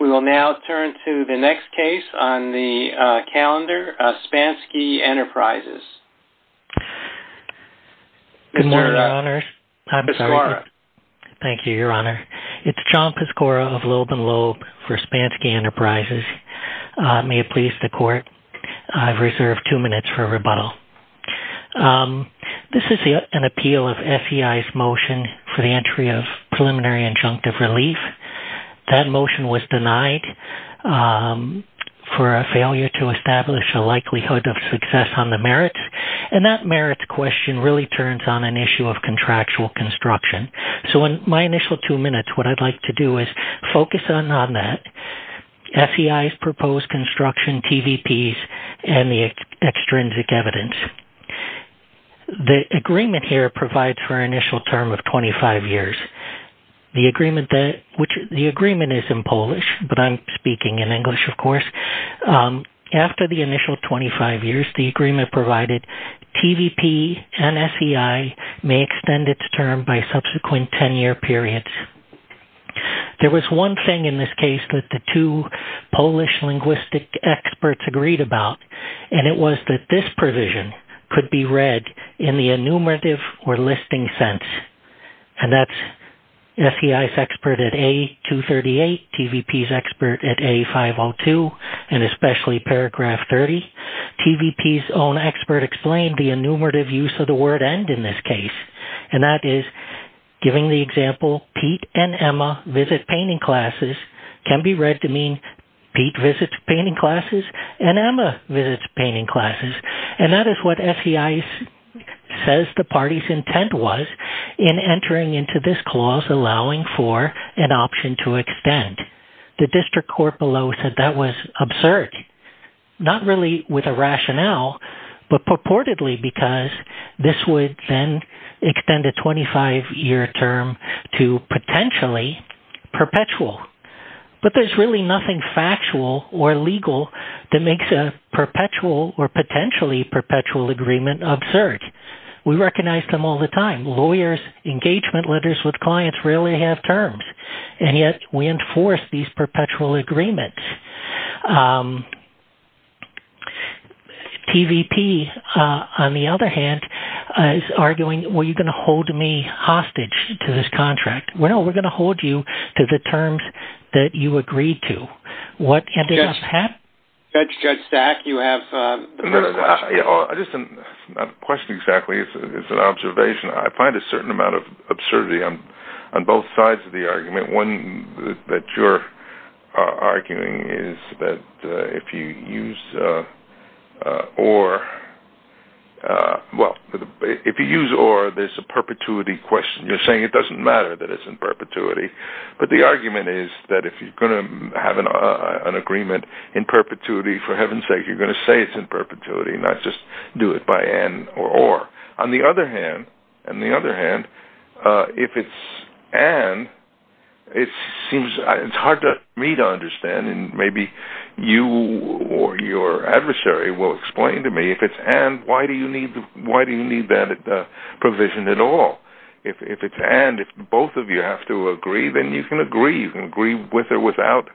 We will now turn to the next case on the calendar, Spanski Enterprises. Good morning, Your Honors. I'm sorry. Thank you, Your Honor. It's John Pascora of Loeb & Loeb for Spanski Enterprises. May it please the Court, I've reserved two minutes for rebuttal. This is an appeal of SEI's motion for the entry of preliminary injunctive relief. That motion was denied for a failure to establish a likelihood of success on the merits. And that merits question really turns on an issue of contractual construction. So in my initial two minutes, what I'd like to do is focus on that, SEI's proposed construction, TVPs, and the extrinsic evidence. The agreement here provides for an initial term of 25 years. The agreement is in Polish, but I'm speaking in English, of course. After the initial 25 years, the agreement provided TVP and SEI may extend its term by subsequent 10-year periods. There was one thing in this case that the two Polish linguistic experts agreed about, and it was that this provision could be read in the enumerative or listing sense. And that's SEI's expert at A238, TVP's expert at A502, and especially paragraph 30. TVP's own expert explained the enumerative use of the word end in this case. And that is, giving the example, Pete and Emma visit painting classes, can be read to mean Pete visits painting classes and Emma visits painting classes. And that is what SEI says the party's intent was in entering into this clause, allowing for an option to extend. The district court below said that was absurd, not really with a rationale, but purportedly because this would then extend a 25-year term to potentially perpetual. But there's really nothing factual or legal that makes a perpetual or potentially perpetual agreement absurd. We recognize them all the time. Lawyers' engagement letters with clients rarely have terms. And yet, we enforce these perpetual agreements. TVP, on the other hand, is arguing, well, you're going to hold me hostage to this contract. Well, we're going to hold you to the terms that you agreed to. What ended up happening? Judge Stack, you have the first question. I just have a question exactly. It's an observation. I find a certain amount of absurdity on both sides of the argument. One that you're arguing is that if you use or, well, if you use or, there's a perpetuity question. You're saying it doesn't matter that it's in perpetuity. But the argument is that if you're going to have an agreement in perpetuity, for heaven's sake, you're going to say it's in perpetuity and not just do it by and or. On the other hand, if it's and, it's hard for me to understand. And maybe you or your adversary will explain to me if it's and, why do you need that provision at all? If it's and, if both of you have to agree, then you can agree. You can agree with or without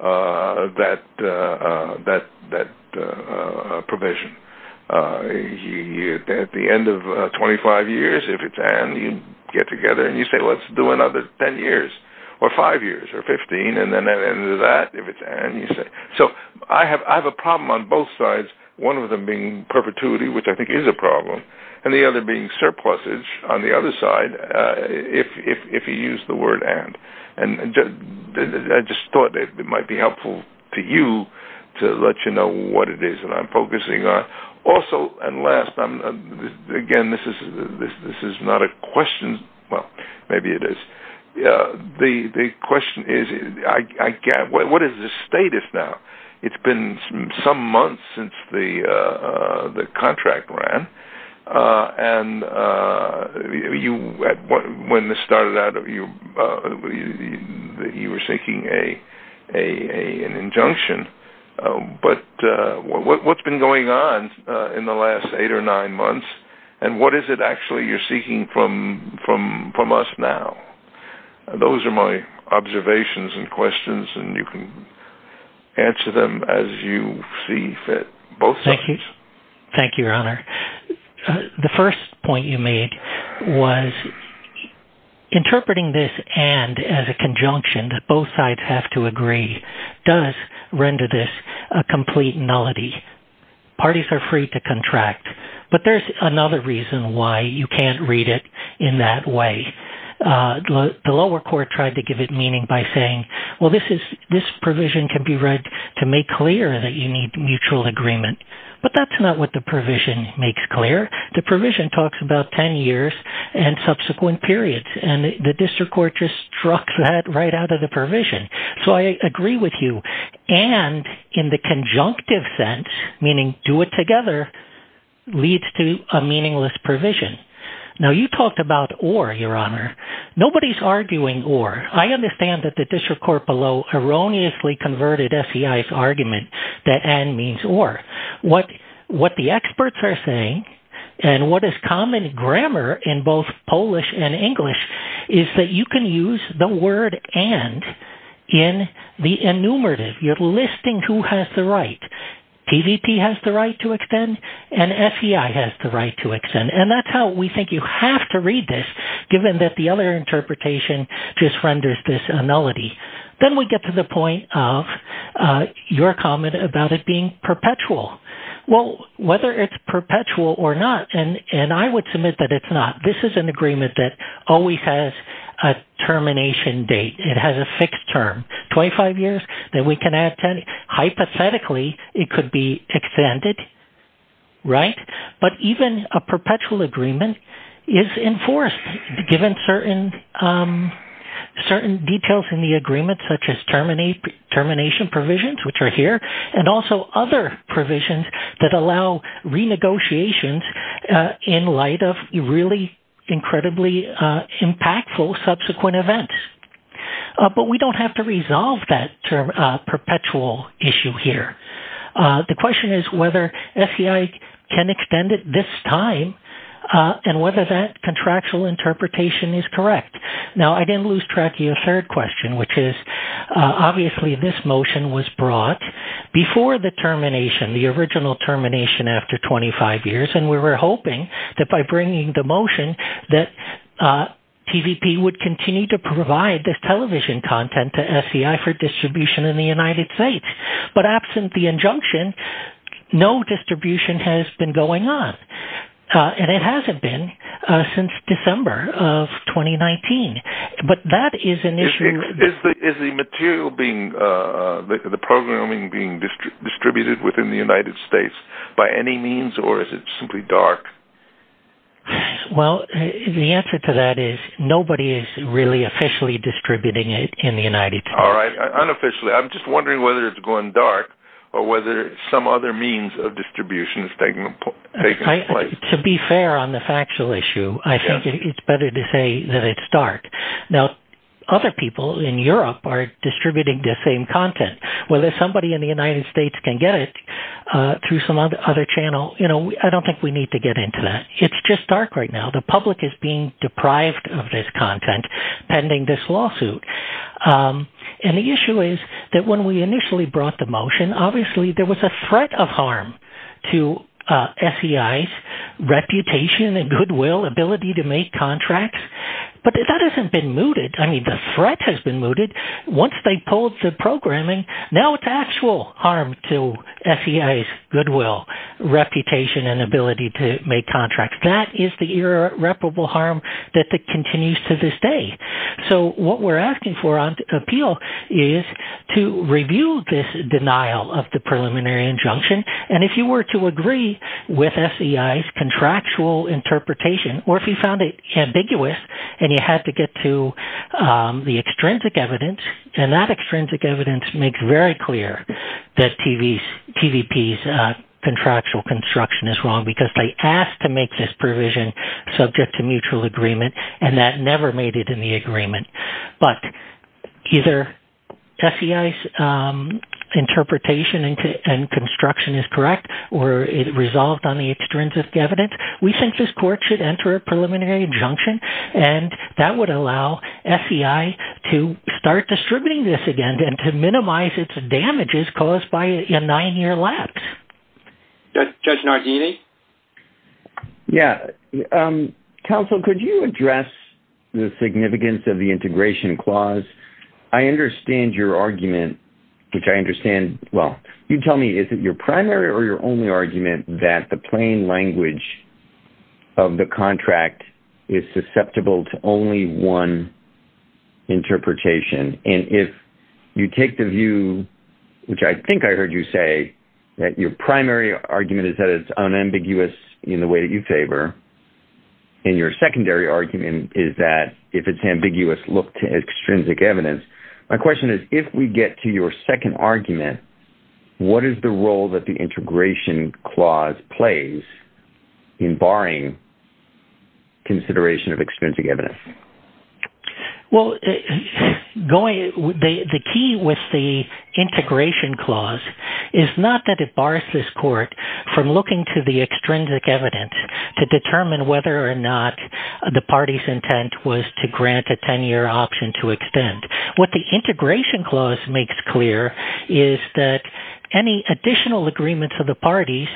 that provision. At the end of 25 years, if it's and, you get together and you say, let's do another 10 years or 5 years or 15. And then at the end of that, if it's and, you say. So, I have a problem on both sides. And the other being surpluses on the other side, if you use the word and. And I just thought it might be helpful to you to let you know what it is that I'm focusing on. Also, and last, again, this is not a question. Well, maybe it is. The question is, what is the status now? It's been some months since the contract ran. And you, when this started out, you were seeking an injunction. But what's been going on in the last 8 or 9 months? And what is it actually you're seeking from us now? Those are my observations and questions. And you can answer them as you see fit, both sides. Thank you, Your Honor. The first point you made was interpreting this and as a conjunction, that both sides have to agree, does render this a complete nullity. Parties are free to contract. But there's another reason why you can't read it in that way. The lower court tried to give it meaning by saying, well, this provision can be read to make clear that you need mutual agreement. But that's not what the provision makes clear. The provision talks about 10 years and subsequent periods. And the district court just struck that right out of the provision. So I agree with you. And in the conjunctive sense, meaning do it together, leads to a meaningless provision. Now, you talked about or, Your Honor. Nobody's arguing or. I understand that the district court below erroneously converted SEI's argument that and means or. What the experts are saying and what is common grammar in both Polish and English is that you can use the word and in the enumerative. You're listing who has the right. PVP has the right to extend and SEI has the right to extend. And that's how we think you have to read this given that the other interpretation just renders this a nullity. Then we get to the point of your comment about it being perpetual. Well, whether it's perpetual or not, and I would submit that it's not. This is an agreement that always has a termination date. It has a fixed term, 25 years that we can add 10. Hypothetically, it could be extended. Right. But even a perpetual agreement is enforced, given certain certain details in the agreement, such as termination provisions, which are here, and also other provisions that allow renegotiations in light of really incredibly impactful subsequent events. But we don't have to resolve that perpetual issue here. The question is whether SEI can extend it this time and whether that contractual interpretation is correct. Now, I didn't lose track of your third question, which is obviously this motion was brought before the termination, the original termination after 25 years. And we were hoping that by bringing the motion that TVP would continue to provide this television content to SEI for distribution in the United States. But absent the injunction, no distribution has been going on. And it hasn't been since December of 2019. But that is an issue. Is the material being, the programming being distributed within the United States by any means or is it simply dark? Well, the answer to that is nobody is really officially distributing it in the United States. All right. Unofficially, I'm just wondering whether it's going dark or whether some other means of distribution is taking place. To be fair on the factual issue, I think it's better to say that it's dark. Now, other people in Europe are distributing the same content. Well, if somebody in the United States can get it through some other channel, you know, I don't think we need to get into that. It's just dark right now. The public is being deprived of this content pending this lawsuit. And the issue is that when we initially brought the motion, obviously there was a threat of harm to SEI's reputation and goodwill ability to make contracts. But that hasn't been mooted. I mean, the threat has been mooted. Once they pulled the programming, now it's actual harm to SEI's goodwill, reputation and ability to make contracts. That is the irreparable harm that continues to this day. So what we're asking for on appeal is to review this denial of the preliminary injunction. And if you were to agree with SEI's contractual interpretation or if you found it ambiguous and you had to get to the extrinsic evidence and that extrinsic evidence makes very clear that TVP's contractual construction is wrong because they asked to make this provision subject to mutual agreement and that never made it in the agreement. But either SEI's interpretation and construction is correct or it resolved on the extrinsic evidence. We think this court should enter a preliminary injunction and that would allow SEI to start distributing this again and to minimize its damages caused by a nine-year lapse. Judge Nardini? Yeah. Counsel, could you address the significance of the integration clause? I understand your argument, which I understand. Well, you tell me, is it your primary or your only argument that the plain language of the contract is susceptible to only one interpretation? And if you take the view, which I think I heard you say, that your primary argument is that it's unambiguous in the way that you favor and your secondary argument is that if it's ambiguous, look to extrinsic evidence. My question is, if we get to your second argument, what is the role that the integration clause plays in barring consideration of extrinsic evidence? Well, the key with the integration clause is not that it bars this court from looking to the extrinsic evidence to determine whether or not the party's intent was to grant a 10-year option to extend. What the integration clause makes clear is that any additional agreement for the parties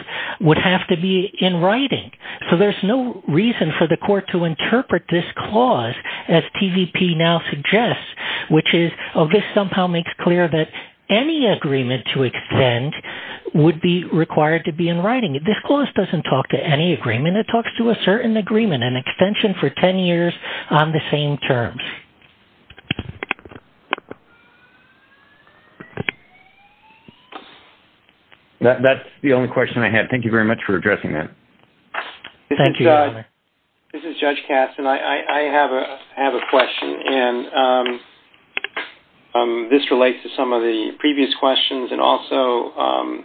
would have to be in writing. So there's no reason for the court to interpret this clause as TVP now suggests, which is, oh, this somehow makes clear that any agreement to extend would be required to be in writing. This clause doesn't talk to any agreement. It talks to a certain agreement, an extension for 10 years on the same terms. That's the only question I had. Thank you very much for addressing that. Thank you, Your Honor. This is Judge Katz, and I have a question. And this relates to some of the previous questions and also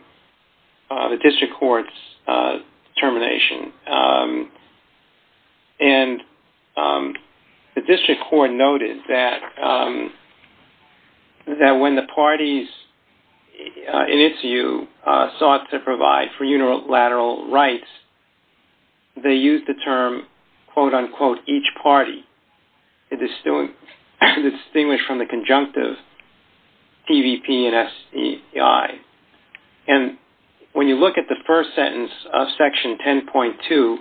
the district court's determination. And the district court noted that when the parties in its view sought to provide for unilateral rights, they used the term, quote, unquote, each party. It is distinguished from the conjunctive TVP and STI. And when you look at the first sentence of Section 10.2,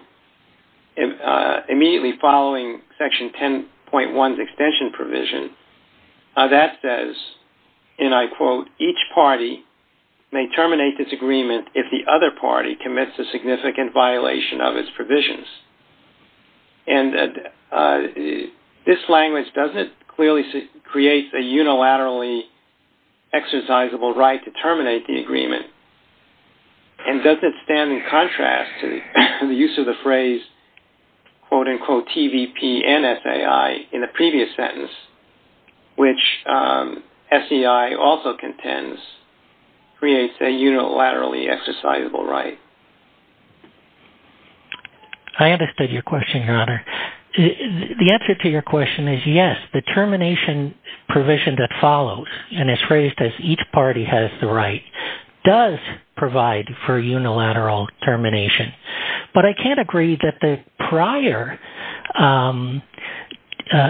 immediately following Section 10.1's extension provision, that says, and I quote, each party may terminate this agreement if the other party commits a significant violation of its provisions. And this language doesn't clearly create a unilaterally exercisable right to terminate the agreement, and doesn't stand in contrast to the use of the phrase, quote, unquote, TVP and STI in the previous sentence, which STI also contends creates a unilaterally exercisable right. I understood your question, Your Honor. The answer to your question is yes. The termination provision that follows, and is phrased as each party has the right, does provide for unilateral termination. But I can't agree that the prior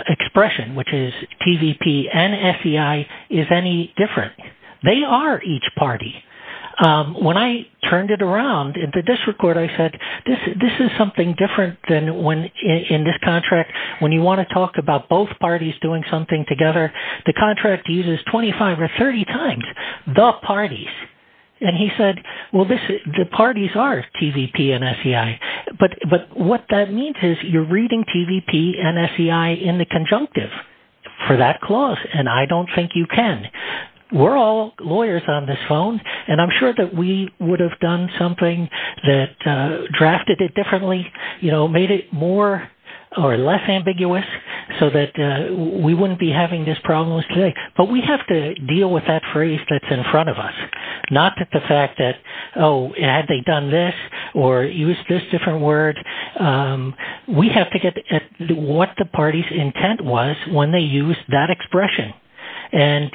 expression, which is TVP and STI, is any different. They are each party. When I turned it around, in the district court, I said, this is something different than when, in this contract, when you want to talk about both parties doing something together, the contract uses 25 or 30 times, the parties. And he said, well, the parties are TVP and STI. But what that means is you're reading TVP and STI in the conjunctive for that clause, and I don't think you can. We're all lawyers on this phone, and I'm sure that we would have done something that drafted it differently, you know, made it more or less ambiguous so that we wouldn't be having this problem today. But we have to deal with that phrase that's in front of us, not that the fact that, oh, have they done this, or use this different word. We have to get at what the party's intent was when they used that expression. And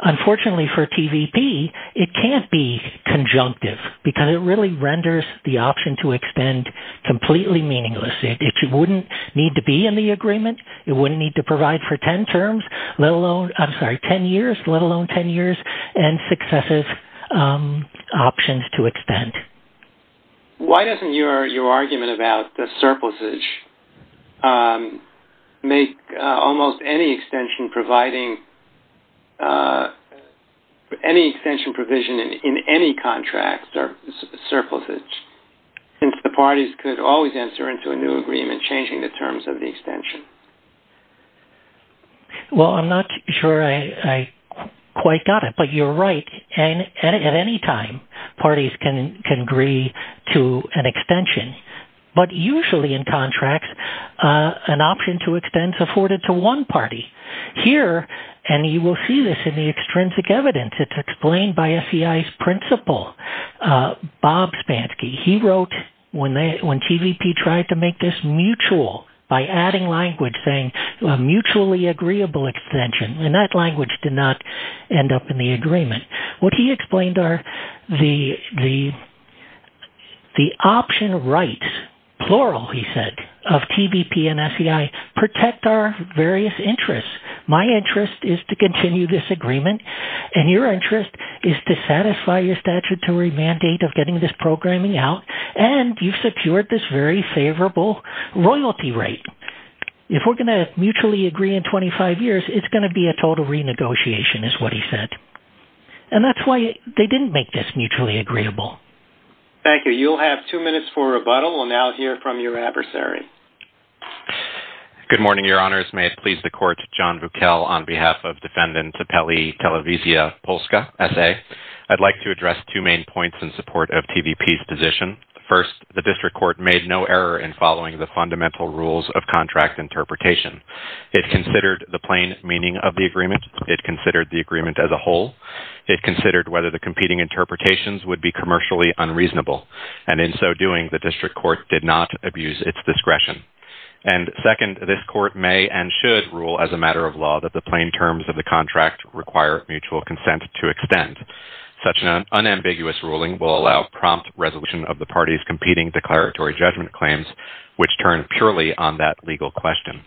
unfortunately, for TVP, it can't be conjunctive because it really renders the option to extend completely meaningless. It wouldn't need to be in the agreement. It wouldn't need to provide for 10 terms, let alone, I'm sorry, 10 years, let alone 10 years, and successive options to extend. Why doesn't your argument about the surplusage make almost any extension providing, any extension provision in any contract surplusage? Since the parties could always enter into a new agreement changing the terms of the extension. Well, I'm not sure I quite got it, but you're right. And at any time, parties can agree to an extension. But usually in contracts, an option to extend is afforded to one party. Here, and you will see this in the extrinsic evidence, it's explained by SEI's principal, Bob Spansky. He wrote when TVP tried to make this mutual by adding language saying a mutually agreeable extension, and that language did not end up in the agreement. What he explained are the option rights, plural, he said, of TVP and SEI, protect our various interests. My interest is to continue this agreement, and your interest is to satisfy your statutory mandate of getting this programming out, and you've secured this very favorable royalty rate. If we're going to mutually agree in 25 years, it's going to be a total renegotiation is what he said. And that's why they didn't make this mutually agreeable. Thank you. You'll have two minutes for rebuttal. We'll now hear from your adversary. Good morning, your honors. May it please the court, John Vukel on behalf of defendant Tepeli Televisia Polska, SA. I'd like to address two main points in support of TVP's position. First, the district court made no error in following the fundamental rules of contract interpretation. It considered the plain meaning of the agreement. It considered the agreement as a whole. It considered whether the competing interpretations would be commercially unreasonable. And in so doing, the district court did not abuse its discretion. And second, this court may and should rule as a matter of law that the plain terms of the contract require mutual consent to extend. Such an unambiguous ruling will allow prompt resolution of the party's competing declaratory judgment claims, which turn purely on that legal question.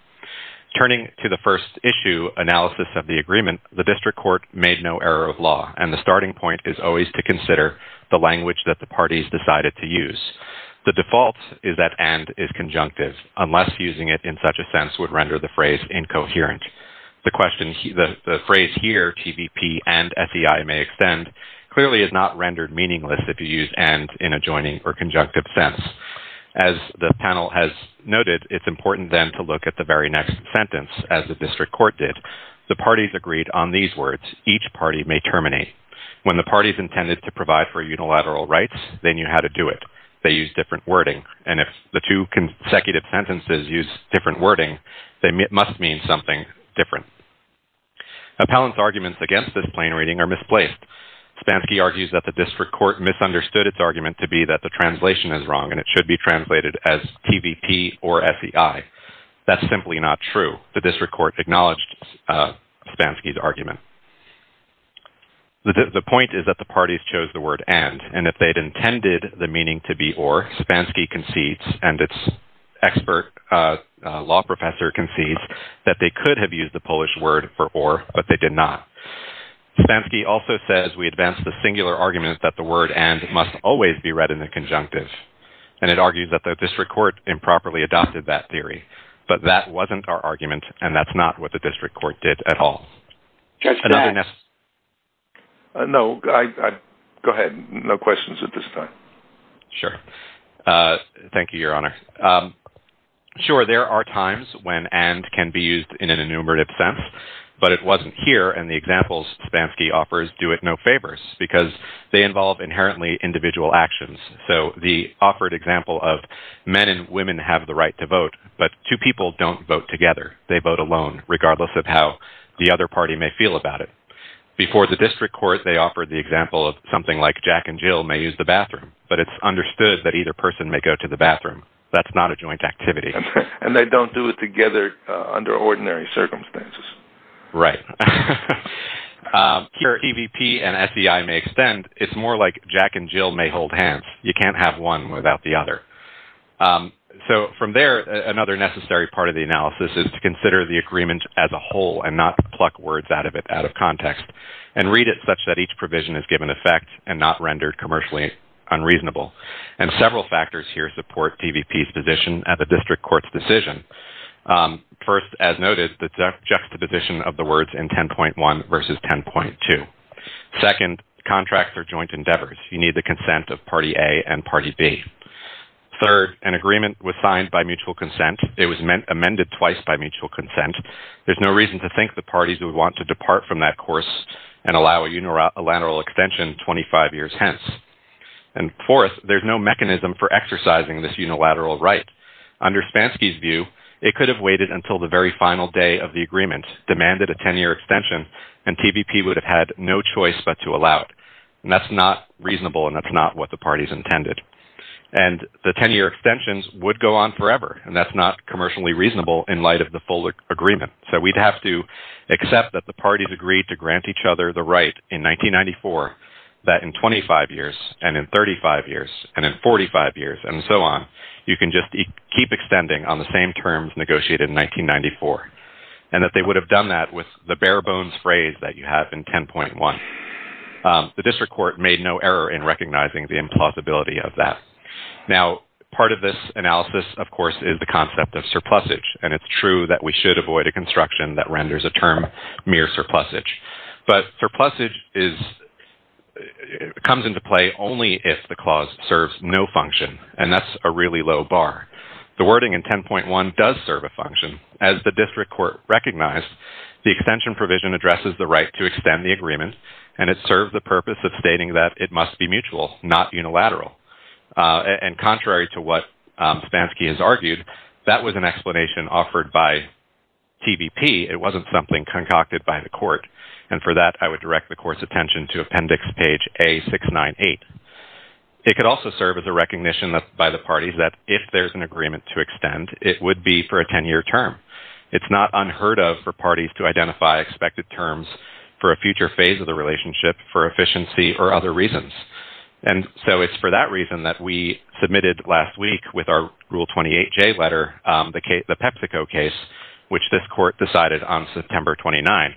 Turning to the first issue, analysis of the agreement, the district court made no error of law, and the starting point is always to consider the language that the parties decided to use. The default is that and is conjunctive unless using it in such a sense would render the phrase incoherent. The phrase here, TVP and SEI may extend, clearly is not rendered meaningless if you use and in a joining or conjunctive sense. As the panel has noted, it's important then to look at the very next sentence as the district court did. The parties agreed on these words, each party may terminate. When the parties intended to provide for unilateral rights, they knew how to do it. They used different wording. And if the two consecutive sentences use different wording, they must mean something different. Appellant's arguments against this plain reading are misplaced. Spansky argues that the district court misunderstood its argument to be that the translation is wrong and it should be translated as TVP or SEI. That's simply not true. The district court acknowledged Spansky's argument. The point is that the parties chose the word and, and if they'd intended the meaning to be or, Spansky concedes and its expert law professor concedes that they could have used the Polish word for or, but they did not. Spansky also says we advance the singular argument that the word and must always be read in the conjunctive. And it argues that the district court improperly adopted that theory. But that wasn't our argument and that's not what the district court did at all. Judge Glantz. No, I, I, go ahead. No questions at this time. Sure. Thank you, your honor. Sure, there are times when and can be used in an enumerative sense, but it wasn't here and the examples Spansky offers do it no favors because they involve inherently individual actions. So the offered example of men and women have the right to vote, but two people don't vote together. They vote alone, regardless of how the other party may feel about it. Before the district court, they offered the example of something like Jack and Jill may use the bathroom, but it's understood that either person may go to the bathroom. That's not a joint activity. And they don't do it together under ordinary circumstances. Right. Here, TVP and SEI may extend. It's more like Jack and Jill may hold hands. You can't have one without the other. So from there, another necessary part of the analysis is to consider the agreement as a whole and not pluck words out of it, out of context, and read it such that each provision is given effect and not rendered commercially unreasonable. And several factors here support TVP's position at the district court's decision. First, as noted, the juxtaposition of the words in 10.1 versus 10.2. Second, contracts are joint endeavors. You need the consent of party A and party B. Third, an agreement was signed by mutual consent. It was amended twice by mutual consent. There's no reason to think the parties would want to depart from that course and allow a unilateral extension 25 years hence. And fourth, there's no mechanism for exercising this unilateral right. Under Spansky's view, it could have waited until the very final day of the agreement demanded a 10-year extension, and TVP would have had no choice but to allow it. And that's not reasonable, and that's not what the parties intended. And the 10-year extensions would go on forever, and that's not commercially reasonable in light of the full agreement. So we'd have to accept that the parties agreed to grant each other the right in 1994 that in 25 years and in 35 years and in 45 years and so on, you can just keep extending on the same terms negotiated in 1994, and that they would have done that with the bare bones phrase that you have in 10.1. The district court made no error in recognizing the implausibility of that. Now, part of this analysis, of course, is the concept of surplusage, and it's true that we should avoid a construction that renders a term mere surplusage. But surplusage comes into play only if the clause serves no function, and that's a really low bar. The wording in 10.1 does serve a function. As the district court recognized, the extension provision addresses the right to extend the agreement, and it serves the purpose of stating that it must be mutual, not unilateral. And contrary to what Spansky has argued, that was an explanation offered by TVP. It wasn't something concocted by the court. And for that, I would direct the court's attention to appendix page A698. It could also serve as a recognition by the parties that if there's an agreement to extend, it would be for a 10-year term. It's not unheard of for parties to identify expected terms for a future phase of the relationship for efficiency or other reasons. And so it's for that reason that we submitted last week with our Rule 28J letter, the PepsiCo case, which this court decided on September 29.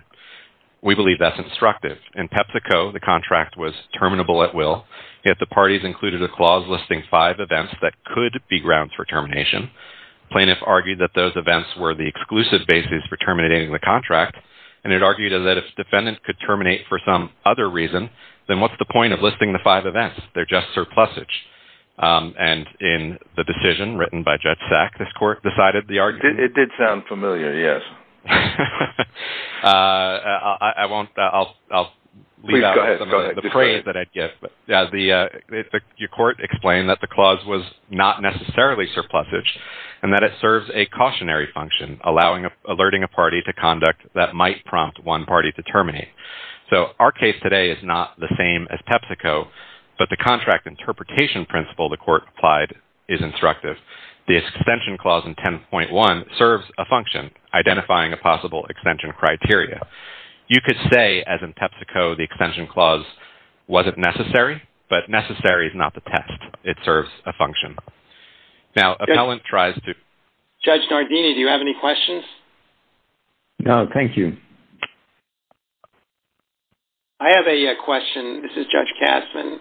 We believe that's instructive. In PepsiCo, the contract was terminable at will, yet the parties included a clause listing five events that could be grounds for termination. Plaintiffs argued that those events were the exclusive basis for terminating the contract, and it argued that if defendants could terminate for some other reason, then what's the point of listing the five events? They're just surplusage. And in the decision written by Judge Sack, this court decided the argument. It did sound familiar, yes. I won't. I'll leave out the praise that I'd get. But yeah, the court explained that the clause was not necessarily surplusage and that it serves a cautionary function, alerting a party to conduct that might prompt one party to terminate. So our case today is not the same as PepsiCo, but the contract interpretation principle the court applied is instructive. The extension clause in 10.1 serves a function, identifying a possible extension criteria. You could say, as in PepsiCo, the extension clause wasn't necessary, but necessary is not the test. It serves a function. Now, appellant tries to. Judge Nardini, do you have any questions? No, thank you. I have a question. This is Judge Kastman.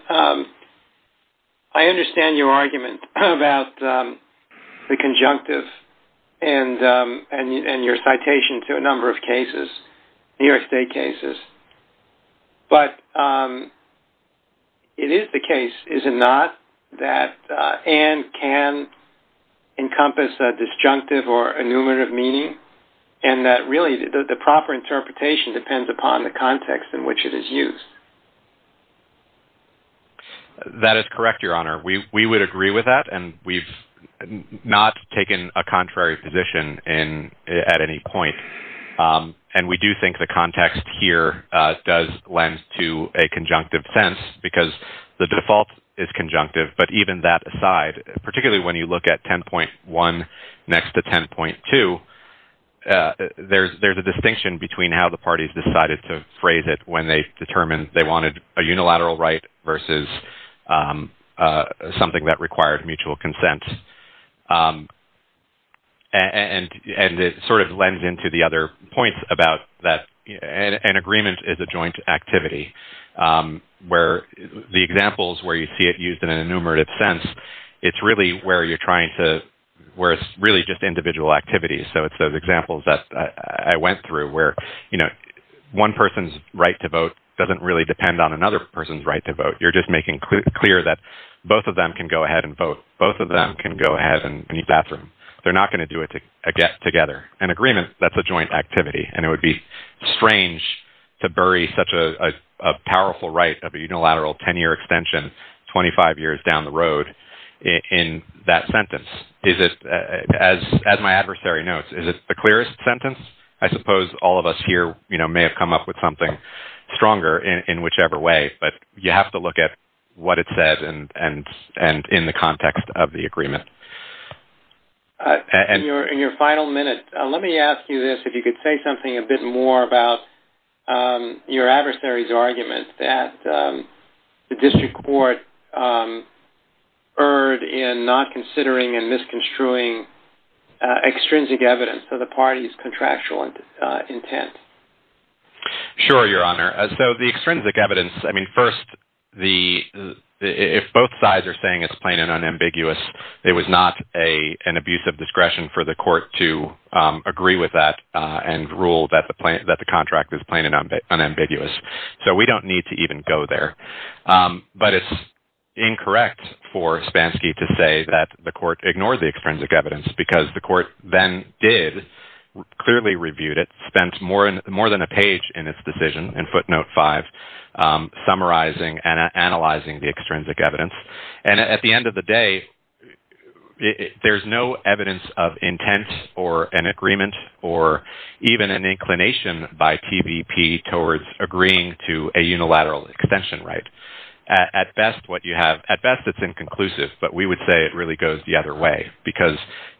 I understand your argument about the conjunctive and your citation to a number of cases, New York State cases. But it is the case, is it not, that and can encompass a disjunctive or enumerative meaning and that really the proper interpretation depends upon the context in which it is used. That is correct, Your Honor. We would agree with that. And we've not taken a contrary position at any point. And we do think the context here does lend to a conjunctive sense because the default is conjunctive. But even that aside, particularly when you look at 10.1 next to 10.2, there's a distinction between how the parties decided to phrase it when they determined they wanted a unilateral right versus something that required mutual consent. And it sort of lends into the other points about that an agreement is a joint activity where the examples where you see it used in an enumerative sense, it's really where you're trying to, where it's really just individual activities. So it's those examples that I went through where, you know, one person's right to vote doesn't really depend on another person's right to vote. You're just making clear that both of them can go ahead and vote. Both of them can go ahead and need bathroom. They're not going to do it together. An agreement, that's a joint activity. And it would be strange to bury such a powerful right of unilateral 10-year extension 25 years down the road in that sentence. Is it, as my adversary notes, is it the clearest sentence? I suppose all of us here, you know, may have come up with something stronger in whichever way, but you have to look at what it says and in the context of the agreement. And your final minute, let me ask you this, if you could say something a bit more about your adversary's argument that the district court erred in not considering and misconstruing extrinsic evidence of the party's contractual intent. Sure, Your Honor. So the extrinsic evidence, I mean, first, the, if both sides are saying it's plain and unambiguous, it was not an abuse of discretion for the court to agree with that and rule that the contract is plain and unambiguous. So we don't need to even go there. But it's incorrect for Spansky to say that the court ignored the extrinsic evidence because the court then did clearly reviewed it, spent more than a page in its decision in footnote five, summarizing and analyzing the extrinsic evidence. And at the end of the day, there's no evidence of intent or an agreement or even an inclination by TVP towards agreeing to a unilateral extension, right? At best, what you have, at best, it's inconclusive, but we would say it really goes the other way. Because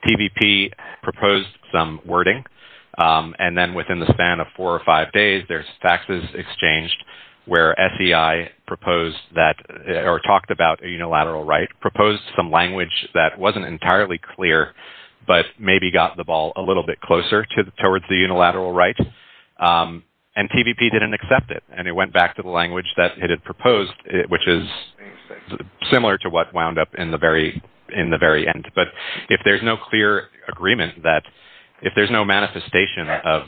TVP proposed some wording, and then within the span of four or five days, there's faxes exchanged where SEI proposed that or talked about a unilateral right, proposed some language that wasn't entirely clear, but maybe got the ball a little bit closer towards the unilateral right. And TVP didn't accept it, and it went back to the language that it had proposed, which is similar to what wound up in the very end. But if there's no clear agreement that, if there's no manifestation of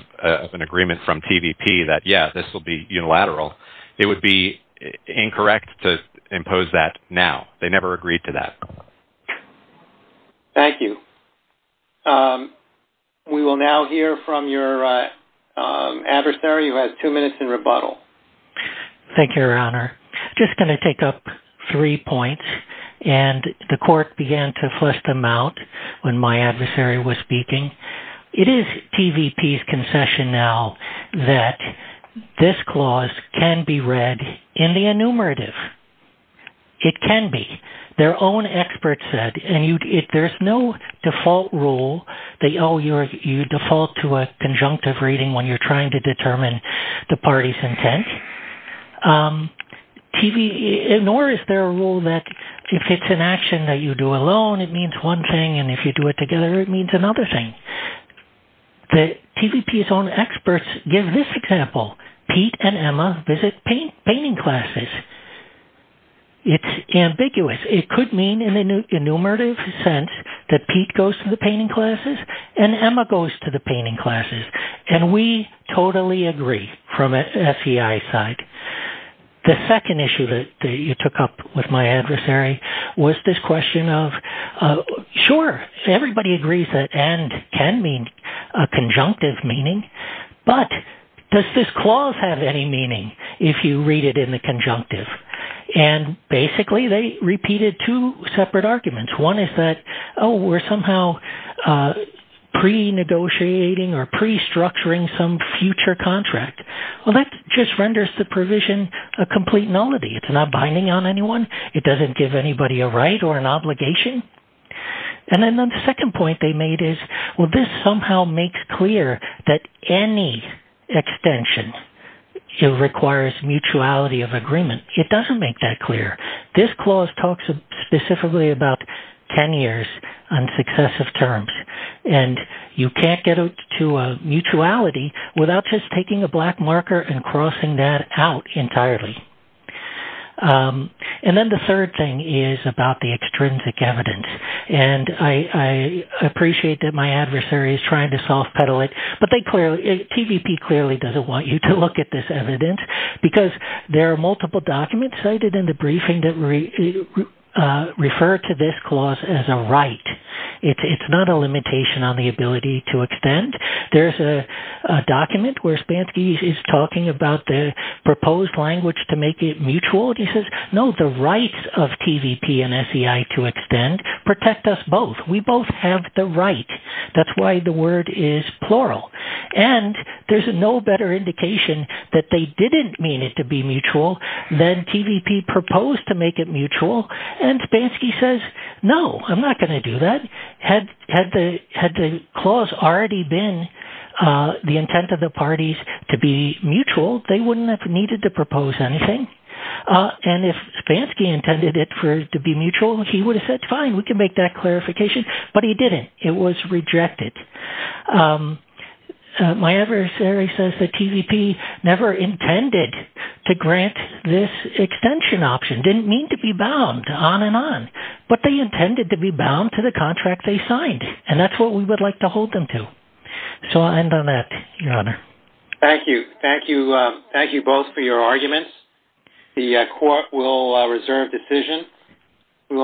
an agreement from TVP that, yeah, this will be unilateral, it would be incorrect to impose that now. They never agreed to that. Thank you. We will now hear from your adversary, who has two minutes in rebuttal. Thank you, Your Honor. Just going to take up three points, and the court began to flush them out when my adversary was speaking. It is TVP's concession now that this clause can be read in the enumerative. It can be. Their own experts said, and there's no default rule that, oh, you default to a conjunctive reading when you're trying to determine the party's intent, nor is there a rule that if it's an action that you do alone, it means one thing, and if you do it together, it means another thing. The TVP's own experts give this example. Pete and Emma visit painting classes. It's ambiguous. It could mean in the enumerative sense that Pete goes to the painting classes, and Emma goes to the painting classes, and we totally agree from a FEI side. The second issue that you took up with my adversary was this question of, sure, everybody agrees that and can mean a conjunctive meaning, but does this clause have any meaning if you read it in the conjunctive? And basically, they repeated two separate arguments. One is that, oh, we're somehow pre-negotiating or pre-structuring some future contract. Well, that just renders the provision a complete nullity. It's not binding on anyone. It doesn't give anybody a right or an obligation, and then the second point they made is, well, this somehow makes clear that any extension requires mutuality of agreement. It doesn't make that clear. This clause talks specifically about 10 years on successive terms, and you can't get out to a mutuality without just taking a black marker and crossing that out entirely. And then the third thing is about the extrinsic evidence, and I appreciate that my adversary is trying to self-pedal it, but they clearly, TVP clearly doesn't want you to look at this evidence because there are multiple documents cited in the briefing that refer to this clause as a right. It's not a limitation on the ability to extend. There's a document where Spansky is talking about the proposed language to make it mutual, and he says, no, the rights of TVP and SEI to extend protect us both. We both have the right. That's why the word is plural. And there's no better indication that they didn't mean it to be mutual than TVP proposed to make it mutual, and Spansky says, no, I'm not going to do that. Had the clause already been the intent of the parties to be mutual, they wouldn't have needed to propose anything, and if Spansky intended it to be mutual, he would have said, fine, we can make that clarification, but he didn't. It was rejected. My adversary says that TVP never intended to grant this extension option, didn't mean to be bound, on and on, but they intended to be bound to the contract they signed, and that's what we would like to hold them to. So I'll end on that, Your Honor. Thank you. Thank you both for your arguments. The court will reserve decision.